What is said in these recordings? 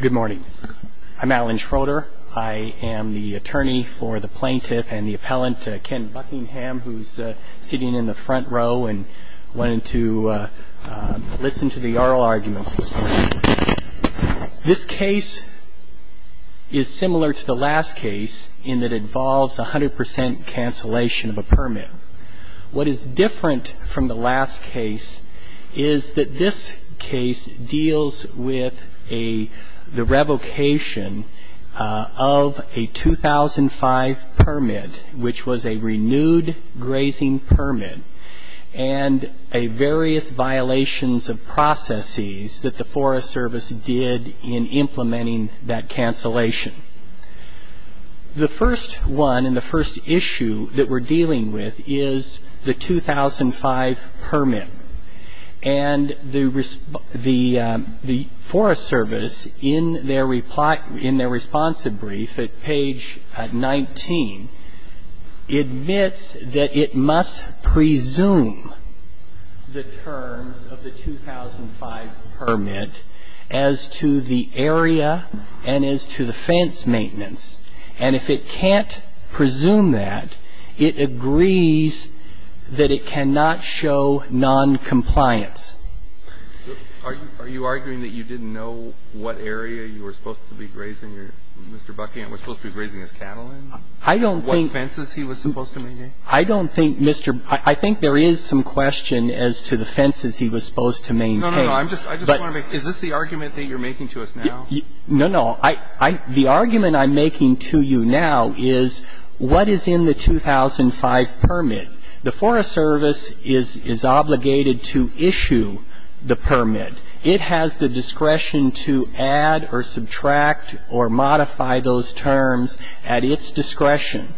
Good morning. I'm Alan Schroeder. I am the attorney for the plaintiff and the appellant, Ken Buckingham, who's sitting in the front row and wanted to listen to the oral arguments this morning. This case is similar to the last case in that it involves 100 percent cancellation of a permit. What is different from the last case is that this case deals with the revocation of a 2005 permit, which was a renewed grazing permit, and various violations of processes that the Forest Service did in implementing that cancellation. The first one and the first issue that we're dealing with is the 2005 permit. And the Forest Service, in their response to brief at page 19, admits that it must presume the terms of the 2005 permit as to the area and as to the fence maintenance. And if it can't presume that, it agrees that it cannot show noncompliance. Are you arguing that you didn't know what area you were supposed to be grazing your Mr. Buckingham was supposed to be grazing his cattle in? I don't think. What fences he was supposed to maintain? I don't think, Mr. ---- I think there is some question as to the fences he was supposed to maintain. No, no, no. I'm just, I just want to make, is this the argument that you're making to us now? No, no. I, I, the argument I'm making to you now is what is in the 2005 permit? The Forest Service is, is obligated to issue the permit. It has the discretion to add or subtract or modify those terms at its discretion.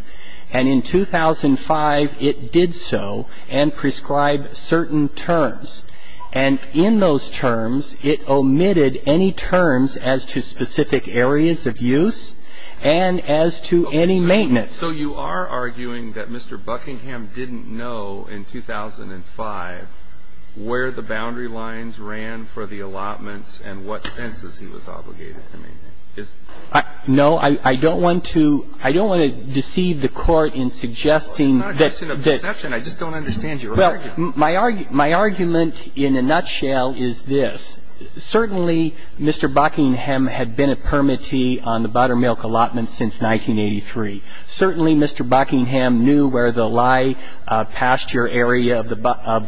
And in 2005, it did so and prescribed certain terms. And in those terms, it omitted any terms as to specific areas of use and as to any maintenance. So you are arguing that Mr. Buckingham didn't know in 2005 where the boundary lines ran for the allotments and what fences he was obligated to maintain? No, I don't want to, I don't want to deceive the Court in suggesting that. It's not a question of deception. I just don't understand your argument. My argument in a nutshell is this. Certainly, Mr. Buckingham had been a permittee on the buttermilk allotments since 1983. Certainly, Mr. Buckingham knew where the lye pasture area of the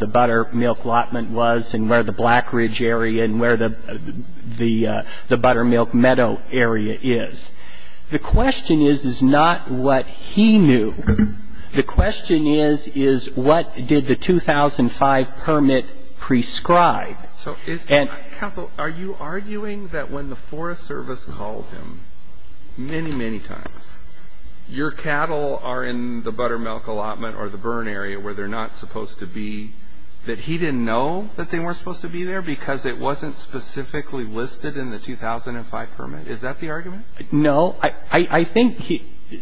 buttermilk allotment was and where the Blackridge area and where the buttermilk meadow area is. The question is, is not what he knew. The question is, is what did the 2005 permit prescribe? So is the Counsel, are you arguing that when the Forest Service called him many, many times, your cattle are in the buttermilk allotment or the burn area where they're not supposed to be, that he didn't know that they weren't supposed to be there because it wasn't specifically listed in the 2005 permit? Is that the argument? No. I think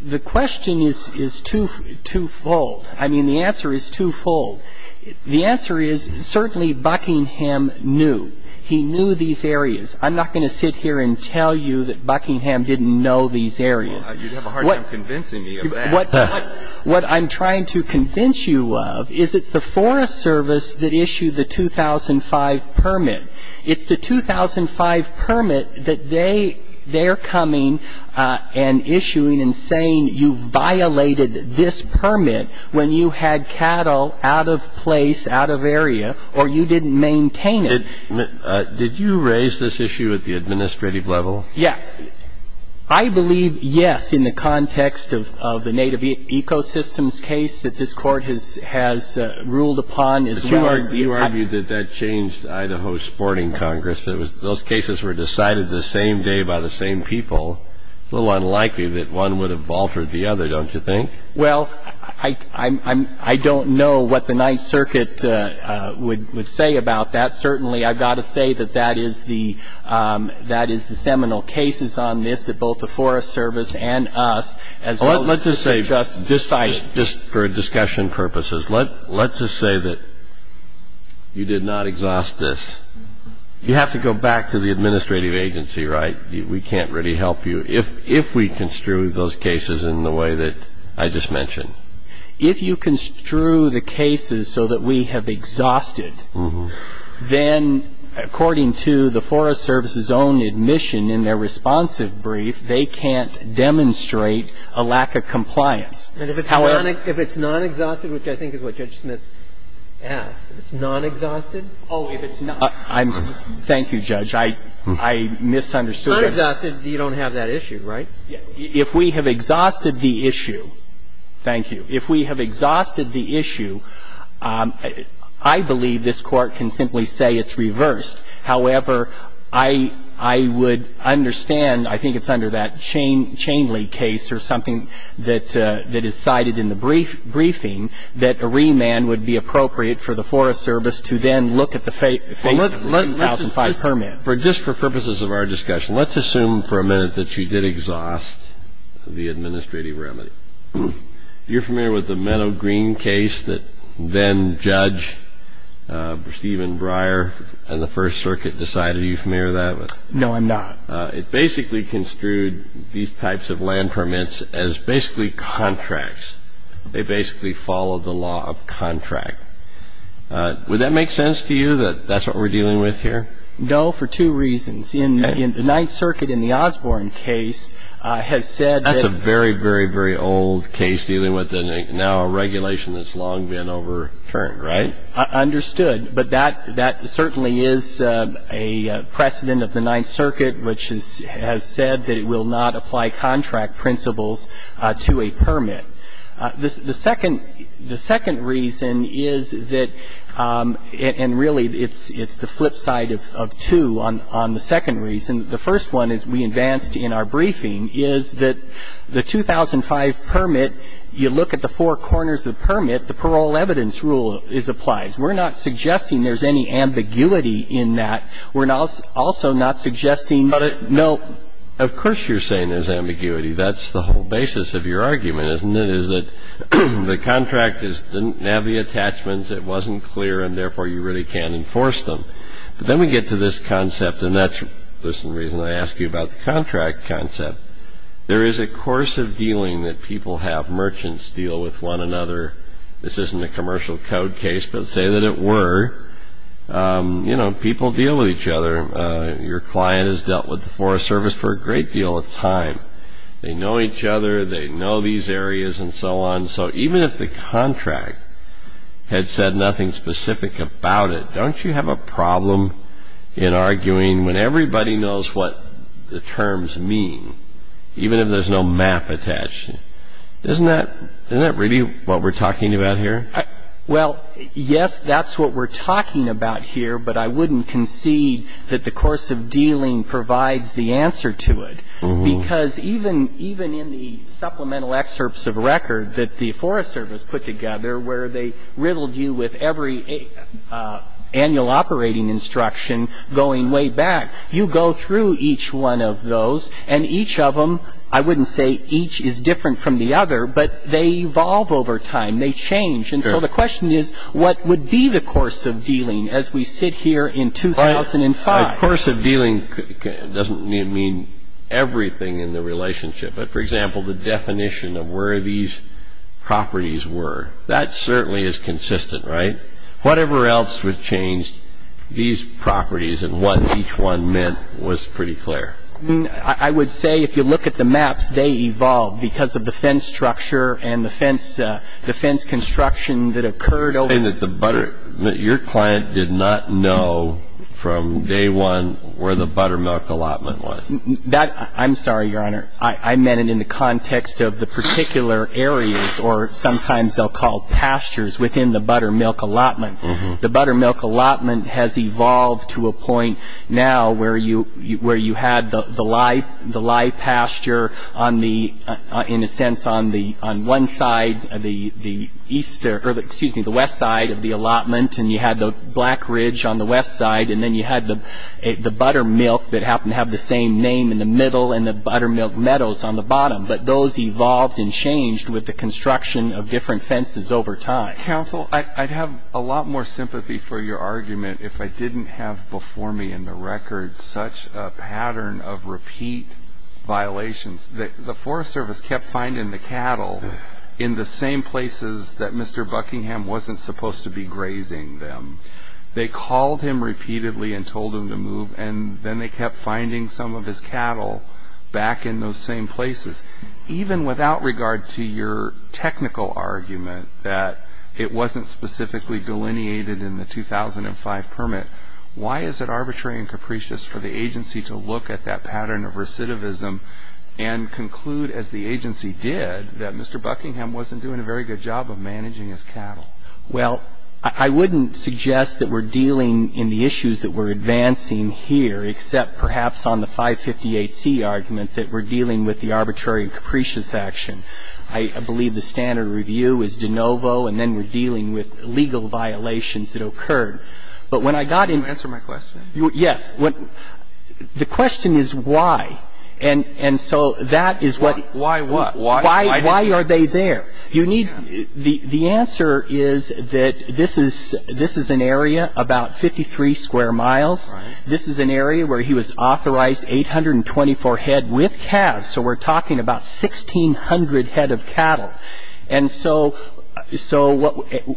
the question is twofold. I mean, the answer is twofold. The answer is certainly Buckingham knew. He knew these areas. I'm not going to sit here and tell you that Buckingham didn't know these areas. You'd have a hard time convincing me of that. What I'm trying to convince you of is it's the Forest Service that issued the 2005 permit. It's the 2005 permit that they're coming and issuing and saying you violated this permit when you had cattle out of place, out of area, or you didn't maintain it. Did you raise this issue at the administrative level? Yes. I believe yes in the context of the Native Ecosystems case that this Court has ruled upon. But you argue that that changed Idaho's sporting congress. Those cases were decided the same day by the same people. It's a little unlikely that one would have altered the other, don't you think? Well, I don't know what the Ninth Circuit would say about that. Certainly, I've got to say that that is the seminal cases on this that both the Forest Service and us as well as the District Justice decided. Just for discussion purposes, let's just say that you did not exhaust this. You have to go back to the administrative agency, right? We can't really help you if we construe those cases in the way that I just mentioned. If you construe the cases so that we have exhausted, then according to the Forest Service's own admission in their responsive brief, they can't demonstrate a lack of compliance. And if it's non-exhausted, which I think is what Judge Smith asked, if it's non-exhausted? Oh, if it's non-exhausted. Thank you, Judge. I misunderstood. If it's non-exhausted, you don't have that issue, right? If we have exhausted the issue, thank you. If we have exhausted the issue, I believe this Court can simply say it's reversed. However, I would understand, I think it's under that Chainley case or something that is cited in the briefing, that a remand would be appropriate for the Forest Service to then look at the face of the 2005 permit. Just for purposes of our discussion, let's assume for a minute that you did exhaust the administrative remedy. You're familiar with the Meadow Green case that then-judge Stephen Breyer and the First Circuit decided? Are you familiar with that? No, I'm not. It basically construed these types of land permits as basically contracts. They basically followed the law of contract. Would that make sense to you, that that's what we're dealing with here? No, for two reasons. The Ninth Circuit in the Osborne case has said that the- Very, very, very old case dealing with now a regulation that's long been overturned, right? Understood. But that certainly is a precedent of the Ninth Circuit, which has said that it will not apply contract principles to a permit. The second reason is that, and really it's the flip side of two on the second reason. The first one, as we advanced in our briefing, is that the 2005 permit, you look at the four corners of the permit, the parole evidence rule applies. We're not suggesting there's any ambiguity in that. We're also not suggesting that it no- Of course you're saying there's ambiguity. That's the whole basis of your argument, isn't it, is that the contract didn't have the attachments, it wasn't clear, and therefore you really can't enforce them. But then we get to this concept, and that's the reason I ask you about the contract concept. There is a course of dealing that people have. Merchants deal with one another. This isn't a commercial code case, but say that it were. You know, people deal with each other. Your client has dealt with the Forest Service for a great deal of time. They know each other. They know these areas and so on. So even if the contract had said nothing specific about it, don't you have a problem in arguing when everybody knows what the terms mean, even if there's no map attached? Isn't that really what we're talking about here? Well, yes, that's what we're talking about here, but I wouldn't concede that the course of dealing provides the answer to it, because even in the supplemental excerpts of record that the Forest Service put together where they riddled you with every annual operating instruction going way back, you go through each one of those, and each of them, I wouldn't say each is different from the other, but they evolve over time. They change. And so the question is, what would be the course of dealing as we sit here in 2005? A course of dealing doesn't mean everything in the relationship. But, for example, the definition of where these properties were, that certainly is consistent, right? Whatever else was changed, these properties and what each one meant was pretty clear. I mean, I would say if you look at the maps, they evolved because of the fence structure and the fence construction that occurred over the years. And your client did not know from day one where the buttermilk allotment was. I'm sorry, Your Honor. I meant it in the context of the particular areas, or sometimes they'll call pastures, within the buttermilk allotment. The buttermilk allotment has evolved to a point now where you had the lye pasture, in a sense, on one side of the west side of the allotment, and you had the Black Ridge on the west side, and then you had the buttermilk that happened to have the same name in the middle and the buttermilk meadows on the bottom. But those evolved and changed with the construction of different fences over time. Counsel, I'd have a lot more sympathy for your argument if I didn't have before me in the records such a pattern of repeat violations. The Forest Service kept finding the cattle in the same places that Mr. Buckingham wasn't supposed to be grazing them. They called him repeatedly and told him to move, and then they kept finding some of his cattle back in those same places. Even without regard to your technical argument that it wasn't specifically delineated in the 2005 permit, why is it arbitrary and capricious for the agency to look at that pattern of recidivism and conclude, as the agency did, that Mr. Buckingham wasn't doing a very good job of managing his cattle? Well, I wouldn't suggest that we're dealing in the issues that we're advancing here, except perhaps on the 558C argument that we're dealing with the arbitrary and capricious action. I believe the standard review is de novo, and then we're dealing with legal violations that occurred. But when I got into the question. Answer my question. Yes. The question is why. And so that is what. Why what? Why are they there? The answer is that this is an area about 53 square miles. This is an area where he was authorized 824 head with calves, so we're talking about 1,600 head of cattle. And so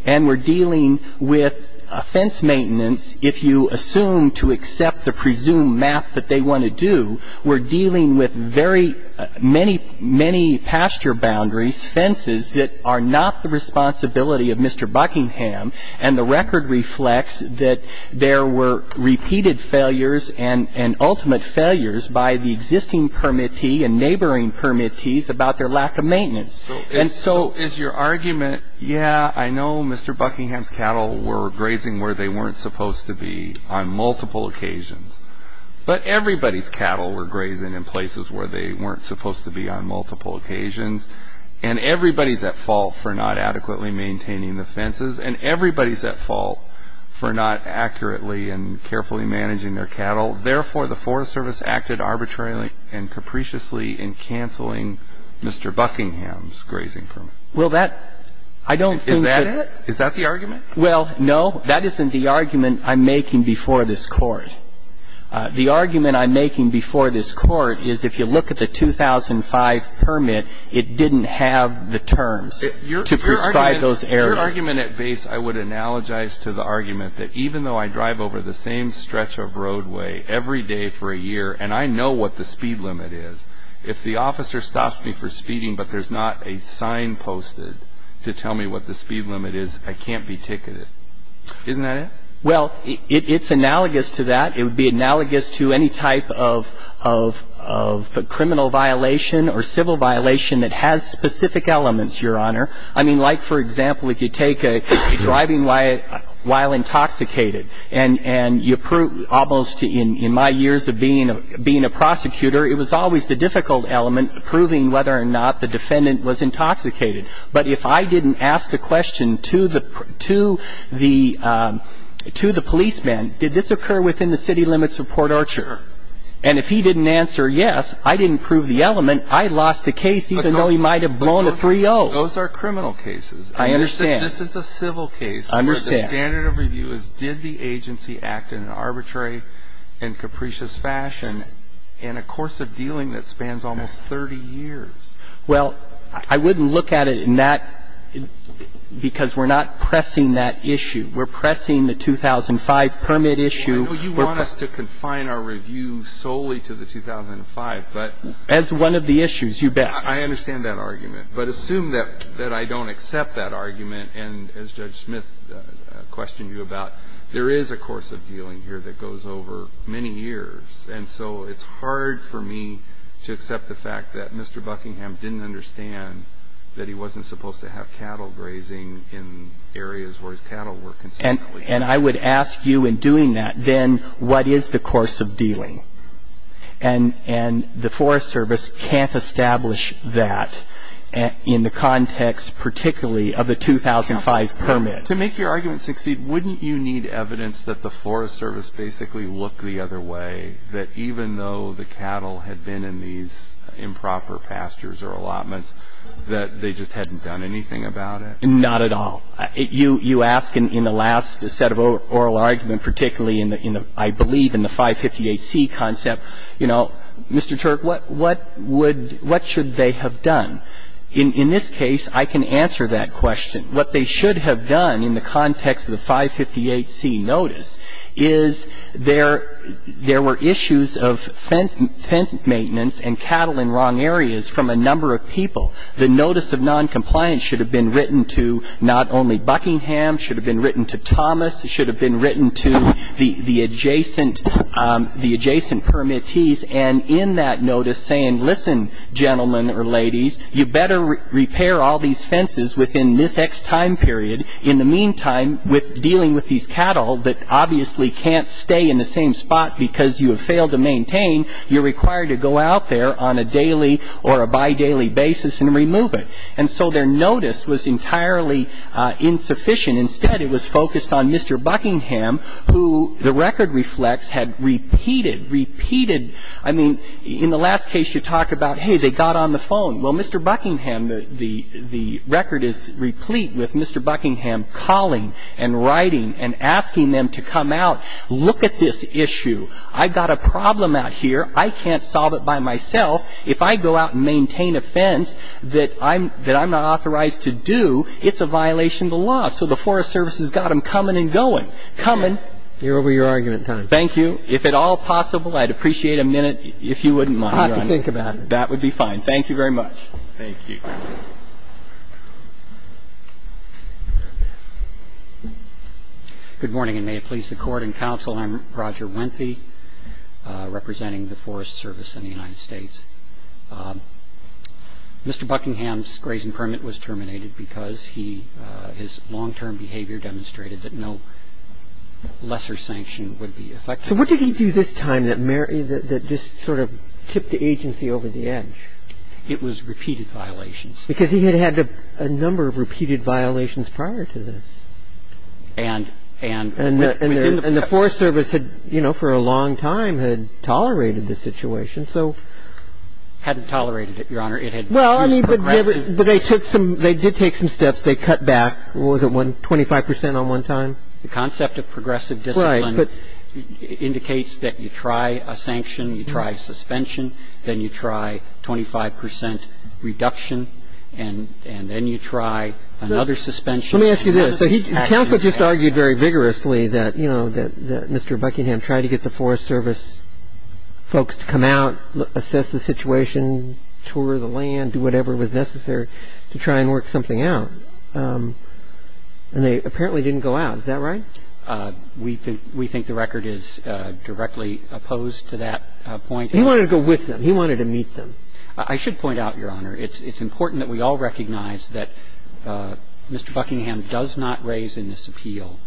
we're dealing with fence maintenance. If you assume to accept the presumed map that they want to do, we're dealing with very many pasture boundaries, fences that are not the responsibility of Mr. Buckingham, and the record reflects that there were repeated failures and ultimate failures by the existing permittee and neighboring permittees about their lack of maintenance. And so is your argument, yeah, I know Mr. Buckingham's cattle were grazing where they weren't supposed to be on multiple occasions. But everybody's cattle were grazing in places where they weren't supposed to be on multiple occasions. And everybody's at fault for not adequately maintaining the fences. And everybody's at fault for not accurately and carefully managing their cattle. Therefore, the Forest Service acted arbitrarily and capriciously in canceling Mr. Buckingham's grazing permit. Well, that, I don't think that. Is that it? Is that the argument? Well, no. That isn't the argument I'm making before this Court. The argument I'm making before this Court is if you look at the 2005 permit, it didn't have the terms to prescribe those areas. Your argument at base, I would analogize to the argument that even though I drive over the same stretch of roadway every day for a year and I know what the speed limit is, if the officer stops me for speeding but there's not a sign posted to tell me what the speed limit is, I can't be ticketed. Isn't that it? Well, it's analogous to that. It would be analogous to any type of criminal violation or civil violation that has specific elements, Your Honor. I mean, like, for example, if you take driving while intoxicated and you prove almost in my years of being a prosecutor, it was always the difficult element proving whether or not the defendant was intoxicated. But if I didn't ask the question to the policeman, did this occur within the city limits of Port Orchard? And if he didn't answer yes, I didn't prove the element, I lost the case even though he might have blown a 3-0. Those are criminal cases. I understand. This is a civil case. I understand. The standard of review is did the agency act in an arbitrary and capricious fashion in a course of dealing that spans almost 30 years? Well, I wouldn't look at it in that because we're not pressing that issue. We're pressing the 2005 permit issue. I know you want us to confine our review solely to the 2005, but as one of the issues, you bet. I understand that argument. But assume that I don't accept that argument and, as Judge Smith questioned you about, there is a course of dealing here that goes over many years. And so it's hard for me to accept the fact that Mr. Buckingham didn't understand that he wasn't supposed to have cattle grazing in areas where his cattle were consistently. And I would ask you in doing that, then, what is the course of dealing? And the Forest Service can't establish that in the context particularly of the 2005 permit. To make your argument succeed, wouldn't you need evidence that the Forest Service basically looked the other way, that even though the cattle had been in these improper pastures or allotments, that they just hadn't done anything about it? Not at all. You ask in the last set of oral argument, particularly in the, I believe in the 558C concept, you know, Mr. Turk, what would, what should they have done? In this case, I can answer that question. What they should have done in the context of the 558C notice is there were issues of fence maintenance and cattle in wrong areas from a number of people. The notice of noncompliance should have been written to not only Buckingham. It should have been written to Thomas. It should have been written to the adjacent permittees. And in that notice saying, listen, gentlemen or ladies, you better repair all these fences within this X time period. In the meantime, with dealing with these cattle that obviously can't stay in the same spot because you have failed to maintain, you're required to go out there on a daily or a bi-daily basis and remove it. And so their notice was entirely insufficient. Instead, it was focused on Mr. Buckingham, who the record reflects had repeated, repeated, I mean, in the last case you talk about, hey, they got on the phone. Well, Mr. Buckingham, the record is replete with Mr. Buckingham calling and writing and asking them to come out, look at this issue. I've got a problem out here. I can't solve it by myself. If I go out and maintain a fence that I'm not authorized to do, it's a violation of the law. So the Forest Service has got them coming and going, coming. You're over your argument time. Thank you. If at all possible, I'd appreciate a minute if you wouldn't mind. I'll have to think about it. That would be fine. Thank you very much. Thank you. Good morning, and may it please the Court and counsel, I'm Roger Wenthy, representing the Forest Service in the United States. Mr. Buckingham's grazing permit was terminated because he, his long-term behavior demonstrated that no lesser sanction would be effective. So what did he do this time that just sort of tipped the agency over the edge? It was repeated violations. Because he had had a number of repeated violations prior to this. And the Forest Service had, you know, for a long time had tolerated the situation, so. Hadn't tolerated it, Your Honor. Well, I mean, but they took some, they did take some steps. They cut back. What was it, 25 percent on one time? The concept of progressive discipline indicates that you try a sanction, you try suspension, then you try 25 percent reduction, and then you try another suspension. Let me ask you this. Counsel just argued very vigorously that, you know, that Mr. Buckingham tried to get the Forest Service folks to come out, assess the situation, tour the land, do whatever was necessary to try and work something out. And they apparently didn't go out. Is that right? We think the record is directly opposed to that point. He wanted to go with them. He wanted to meet them. I should point out, Your Honor, it's important that we all recognize that Mr. Buckingham does not raise in this appeal,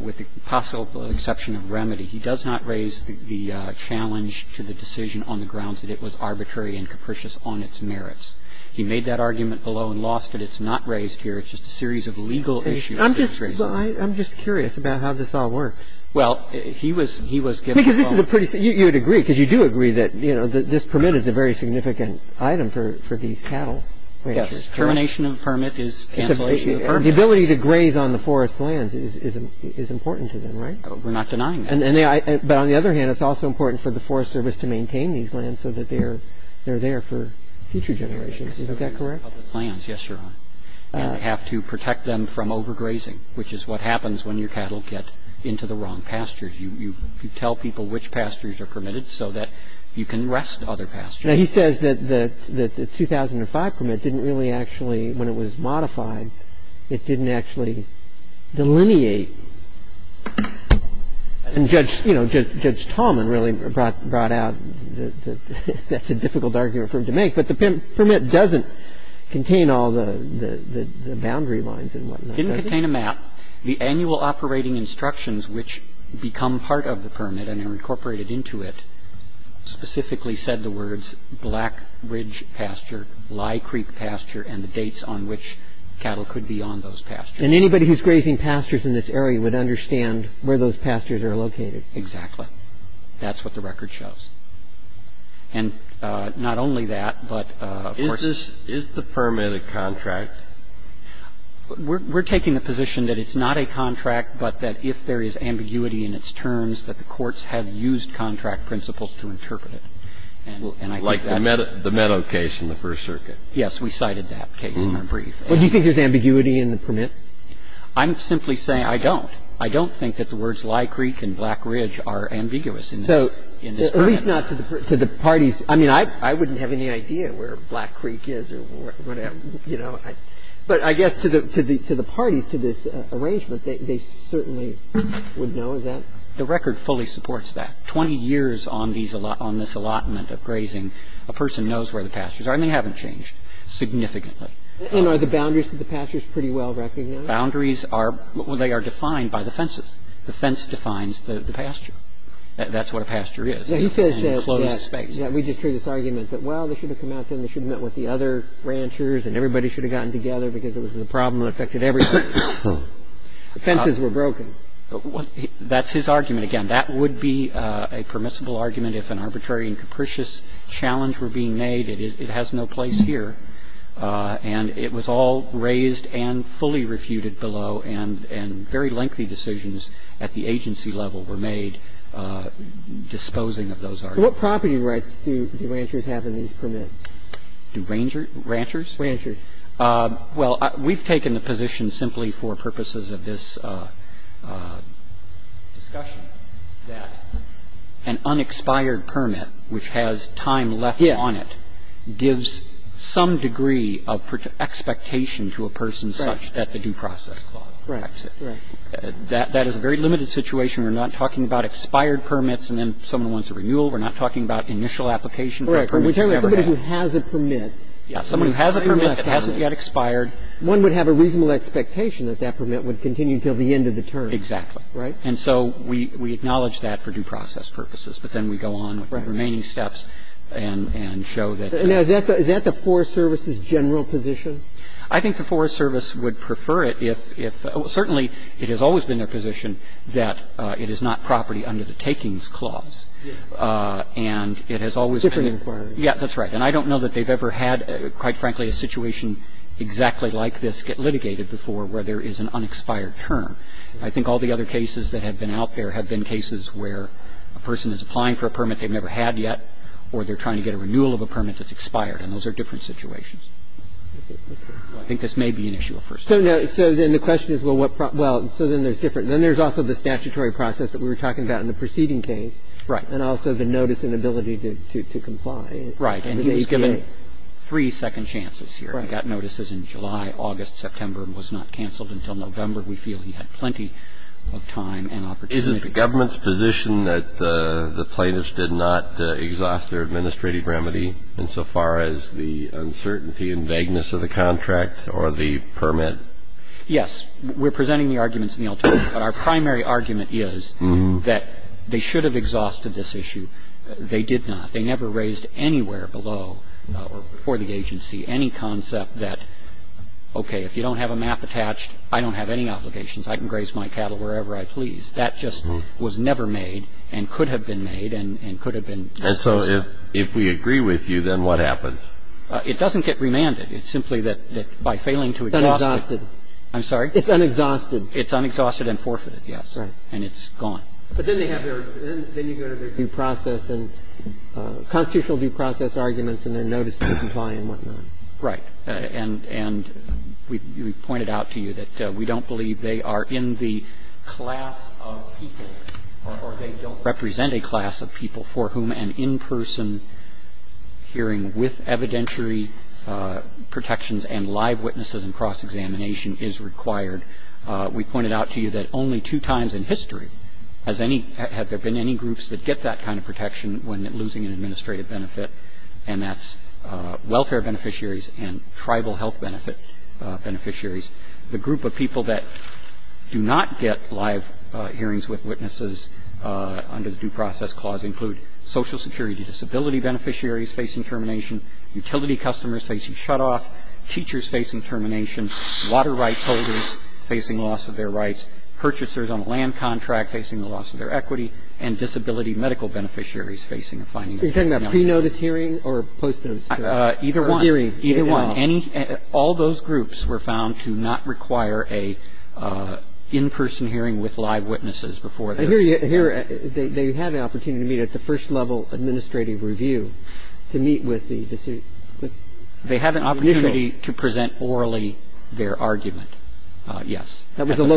with the possible exception of remedy, he does not raise the challenge to the decision on the grounds that it was arbitrary and capricious on its merits. He made that argument below and lost it. It's not raised here. It's just a series of legal issues. I'm just curious about how this all works. Well, he was, he was given the phone call. Because this is a pretty, you would agree, because you do agree that, you know, this permit is a very significant item for these cattle ranchers. Yes. Termination of permit is cancellation of permit. The ability to graze on the forest lands is important to them, right? We're not denying that. But on the other hand, it's also important for the Forest Service to maintain these lands so that they're there for future generations. Is that correct? Yes, Your Honor. And have to protect them from overgrazing, which is what happens when your cattle get into the wrong pastures. And that's a difficult argument for him to make. Because you tell people which pastures are permitted so that you can arrest other pastures. Now, he says that the 2005 permit didn't really actually, when it was modified, it didn't actually delineate. And Judge, you know, Judge Tallman really brought out that that's a difficult argument for him to make. I'm sorry. I didn't contain a map. The annual operating instructions, which become part of the permit and are incorporated into it, specifically said the words, black ridge pasture, lye creek pasture, and the dates on which cattle could be on those pastures. And anybody who's grazing pastures in this area would understand where those pastures are located. Exactly. That's what the record shows. And not only that, but, of course, this Is the permit a contract? We're taking the position that it's not a contract, but that if there is ambiguity in its terms, that the courts have used contract principles to interpret it. And I think that's Like the Meadow case in the First Circuit. Yes. We cited that case in our brief. Well, do you think there's ambiguity in the permit? I'm simply saying I don't. I don't think that the words lye creek and black ridge are ambiguous in this permit. At least not to the parties. I mean, I wouldn't have any idea where black creek is or whatever, you know. But I guess to the parties, to this arrangement, they certainly would know, is that? The record fully supports that. Twenty years on this allotment of grazing, a person knows where the pastures are, and they haven't changed significantly. And are the boundaries to the pastures pretty well recognized? Boundaries are they are defined by the fences. The fence defines the pasture. That's what a pasture is. And the fences are defined by the fences. And the fences are defined by the fence. So he says that, yes. We just heard this argument that, well, they should have come out then. They should have met with the other ranchers, and everybody should have gotten together because it was a problem that affected everybody. The fences were broken. That's his argument. Again, that would be a permissible argument if an arbitrary and capricious challenge were being made. It has no place here. And it was all raised and fully refuted below. And very lengthy decisions at the agency level were made disposing of those arguments. What property rights do ranchers have in these permits? Do ranchers? Ranchers. Well, we've taken the position simply for purposes of this discussion that an unexpired permit, which has time left on it, gives some degree of expectation to a person such that the due process clause affects it. Right. Right. That is a very limited situation. We're not talking about expired permits and then someone wants a renewal. We're not talking about initial application for a permit you never had. Right. But we're talking about somebody who has a permit. Yes. Somebody who has a permit that hasn't yet expired. One would have a reasonable expectation that that permit would continue until the end of the term. Exactly. And so we acknowledge that for due process purposes. But then we go on with the remaining steps and show that. Now, is that the Forest Service's general position? I think the Forest Service would prefer it if – certainly it has always been their position that it is not property under the takings clause. And it has always been. Different inquiry. Yes, that's right. And I don't know that they've ever had, quite frankly, a situation exactly like this get litigated before where there is an unexpired term. I think all the other cases that have been out there have been cases where a person is applying for a permit they've never had yet or they're trying to get a renewal of a permit that's expired. And those are different situations. I think this may be an issue of First Amendment. So then the question is, well, what – well, so then there's different. Then there's also the statutory process that we were talking about in the preceding case. Right. And also the notice and ability to comply. Right. And he's given three second chances here. Right. He got notices in July, August, September, and was not canceled until November, we feel he had plenty of time and opportunity. Isn't the government's position that the plaintiffs did not exhaust their administrative remedy insofar as the uncertainty and vagueness of the contract or the permit? Yes. We're presenting the arguments in the alternative. But our primary argument is that they should have exhausted this issue. They did not. They never raised anywhere below or before the agency any concept that, okay, if you don't have a map attached, I don't have any obligations. I can graze my cattle wherever I please. That just was never made and could have been made and could have been raised. And so if we agree with you, then what happened? It doesn't get remanded. It's simply that by failing to exhaust it. It's unexhausted. I'm sorry? It's unexhausted. It's unexhausted and forfeited, yes. Right. And it's gone. But then they have their – then you go to their due process and constitutional due process arguments and their notice to comply and whatnot. Right. And we pointed out to you that we don't believe they are in the class of people or they don't represent a class of people for whom an in-person hearing with evidentiary protections and live witnesses and cross-examination is required. We pointed out to you that only two times in history has any – have there been any groups that get that kind of protection when losing an administrative benefit, and that's welfare beneficiaries and tribal health benefit beneficiaries. The group of people that do not get live hearings with witnesses under the due process clause include Social Security disability beneficiaries facing termination, utility customers facing shutoff, teachers facing termination, water rights holders facing loss of their rights, purchasers on a land contract facing the loss of their I don't know. Do you know this hearing or post-notice hearing? Either one. Either one. All those groups were found to not require an in-person hearing with live witnesses before they were given their hearing. They have the opportunity to meet at the first level administrative review to meet with the district. They have the opportunity to present orally their argument, yes, at the first level.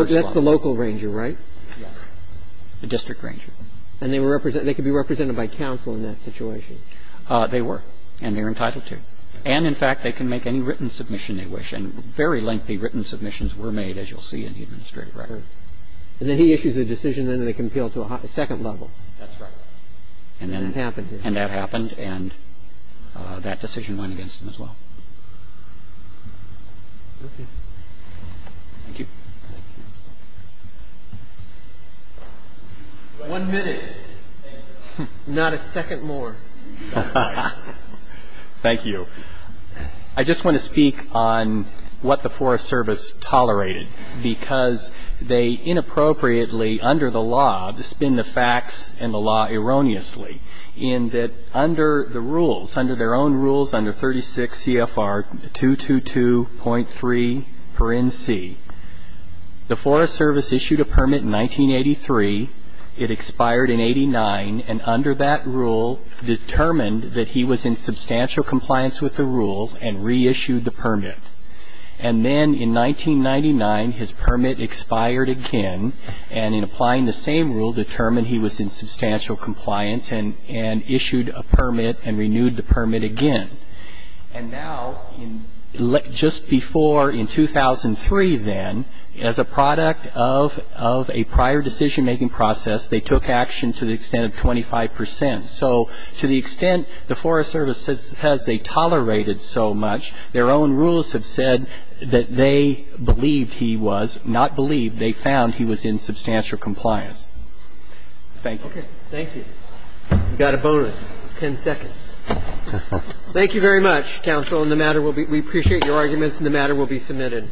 And they can be represented by counsel in that situation. They were. And they're entitled to. And, in fact, they can make any written submission they wish. And very lengthy written submissions were made, as you'll see in the administrative record. And then he issues a decision and they compel to a second level. That's right. And then that happened. And that happened. And that decision went against them as well. Okay. Thank you. Thank you. One minute. Not a second more. Thank you. I just want to speak on what the Forest Service tolerated. Because they inappropriately, under the law, spin the facts and the law erroneously in that under the rules, under their own rules under 36 CFR 222.3 per NC, the Forest Service issued a permit in 1983. It expired in 89. And under that rule, determined that he was in substantial compliance with the rules and reissued the permit. And then in 1999, his permit expired again. And in applying the same rule, determined he was in substantial compliance and issued a permit and renewed the permit again. And now, just before, in 2003 then, as a product of a prior decision-making process, they took action to the extent of 25 percent. So to the extent the Forest Service says they tolerated so much, their own rules have said that they believed he was, not believed, they found he was in substantial compliance. Thank you. Okay. Thank you. We've got a bonus. Ten seconds. Thank you very much, counsel. And the matter will be, we appreciate your arguments and the matter will be submitted.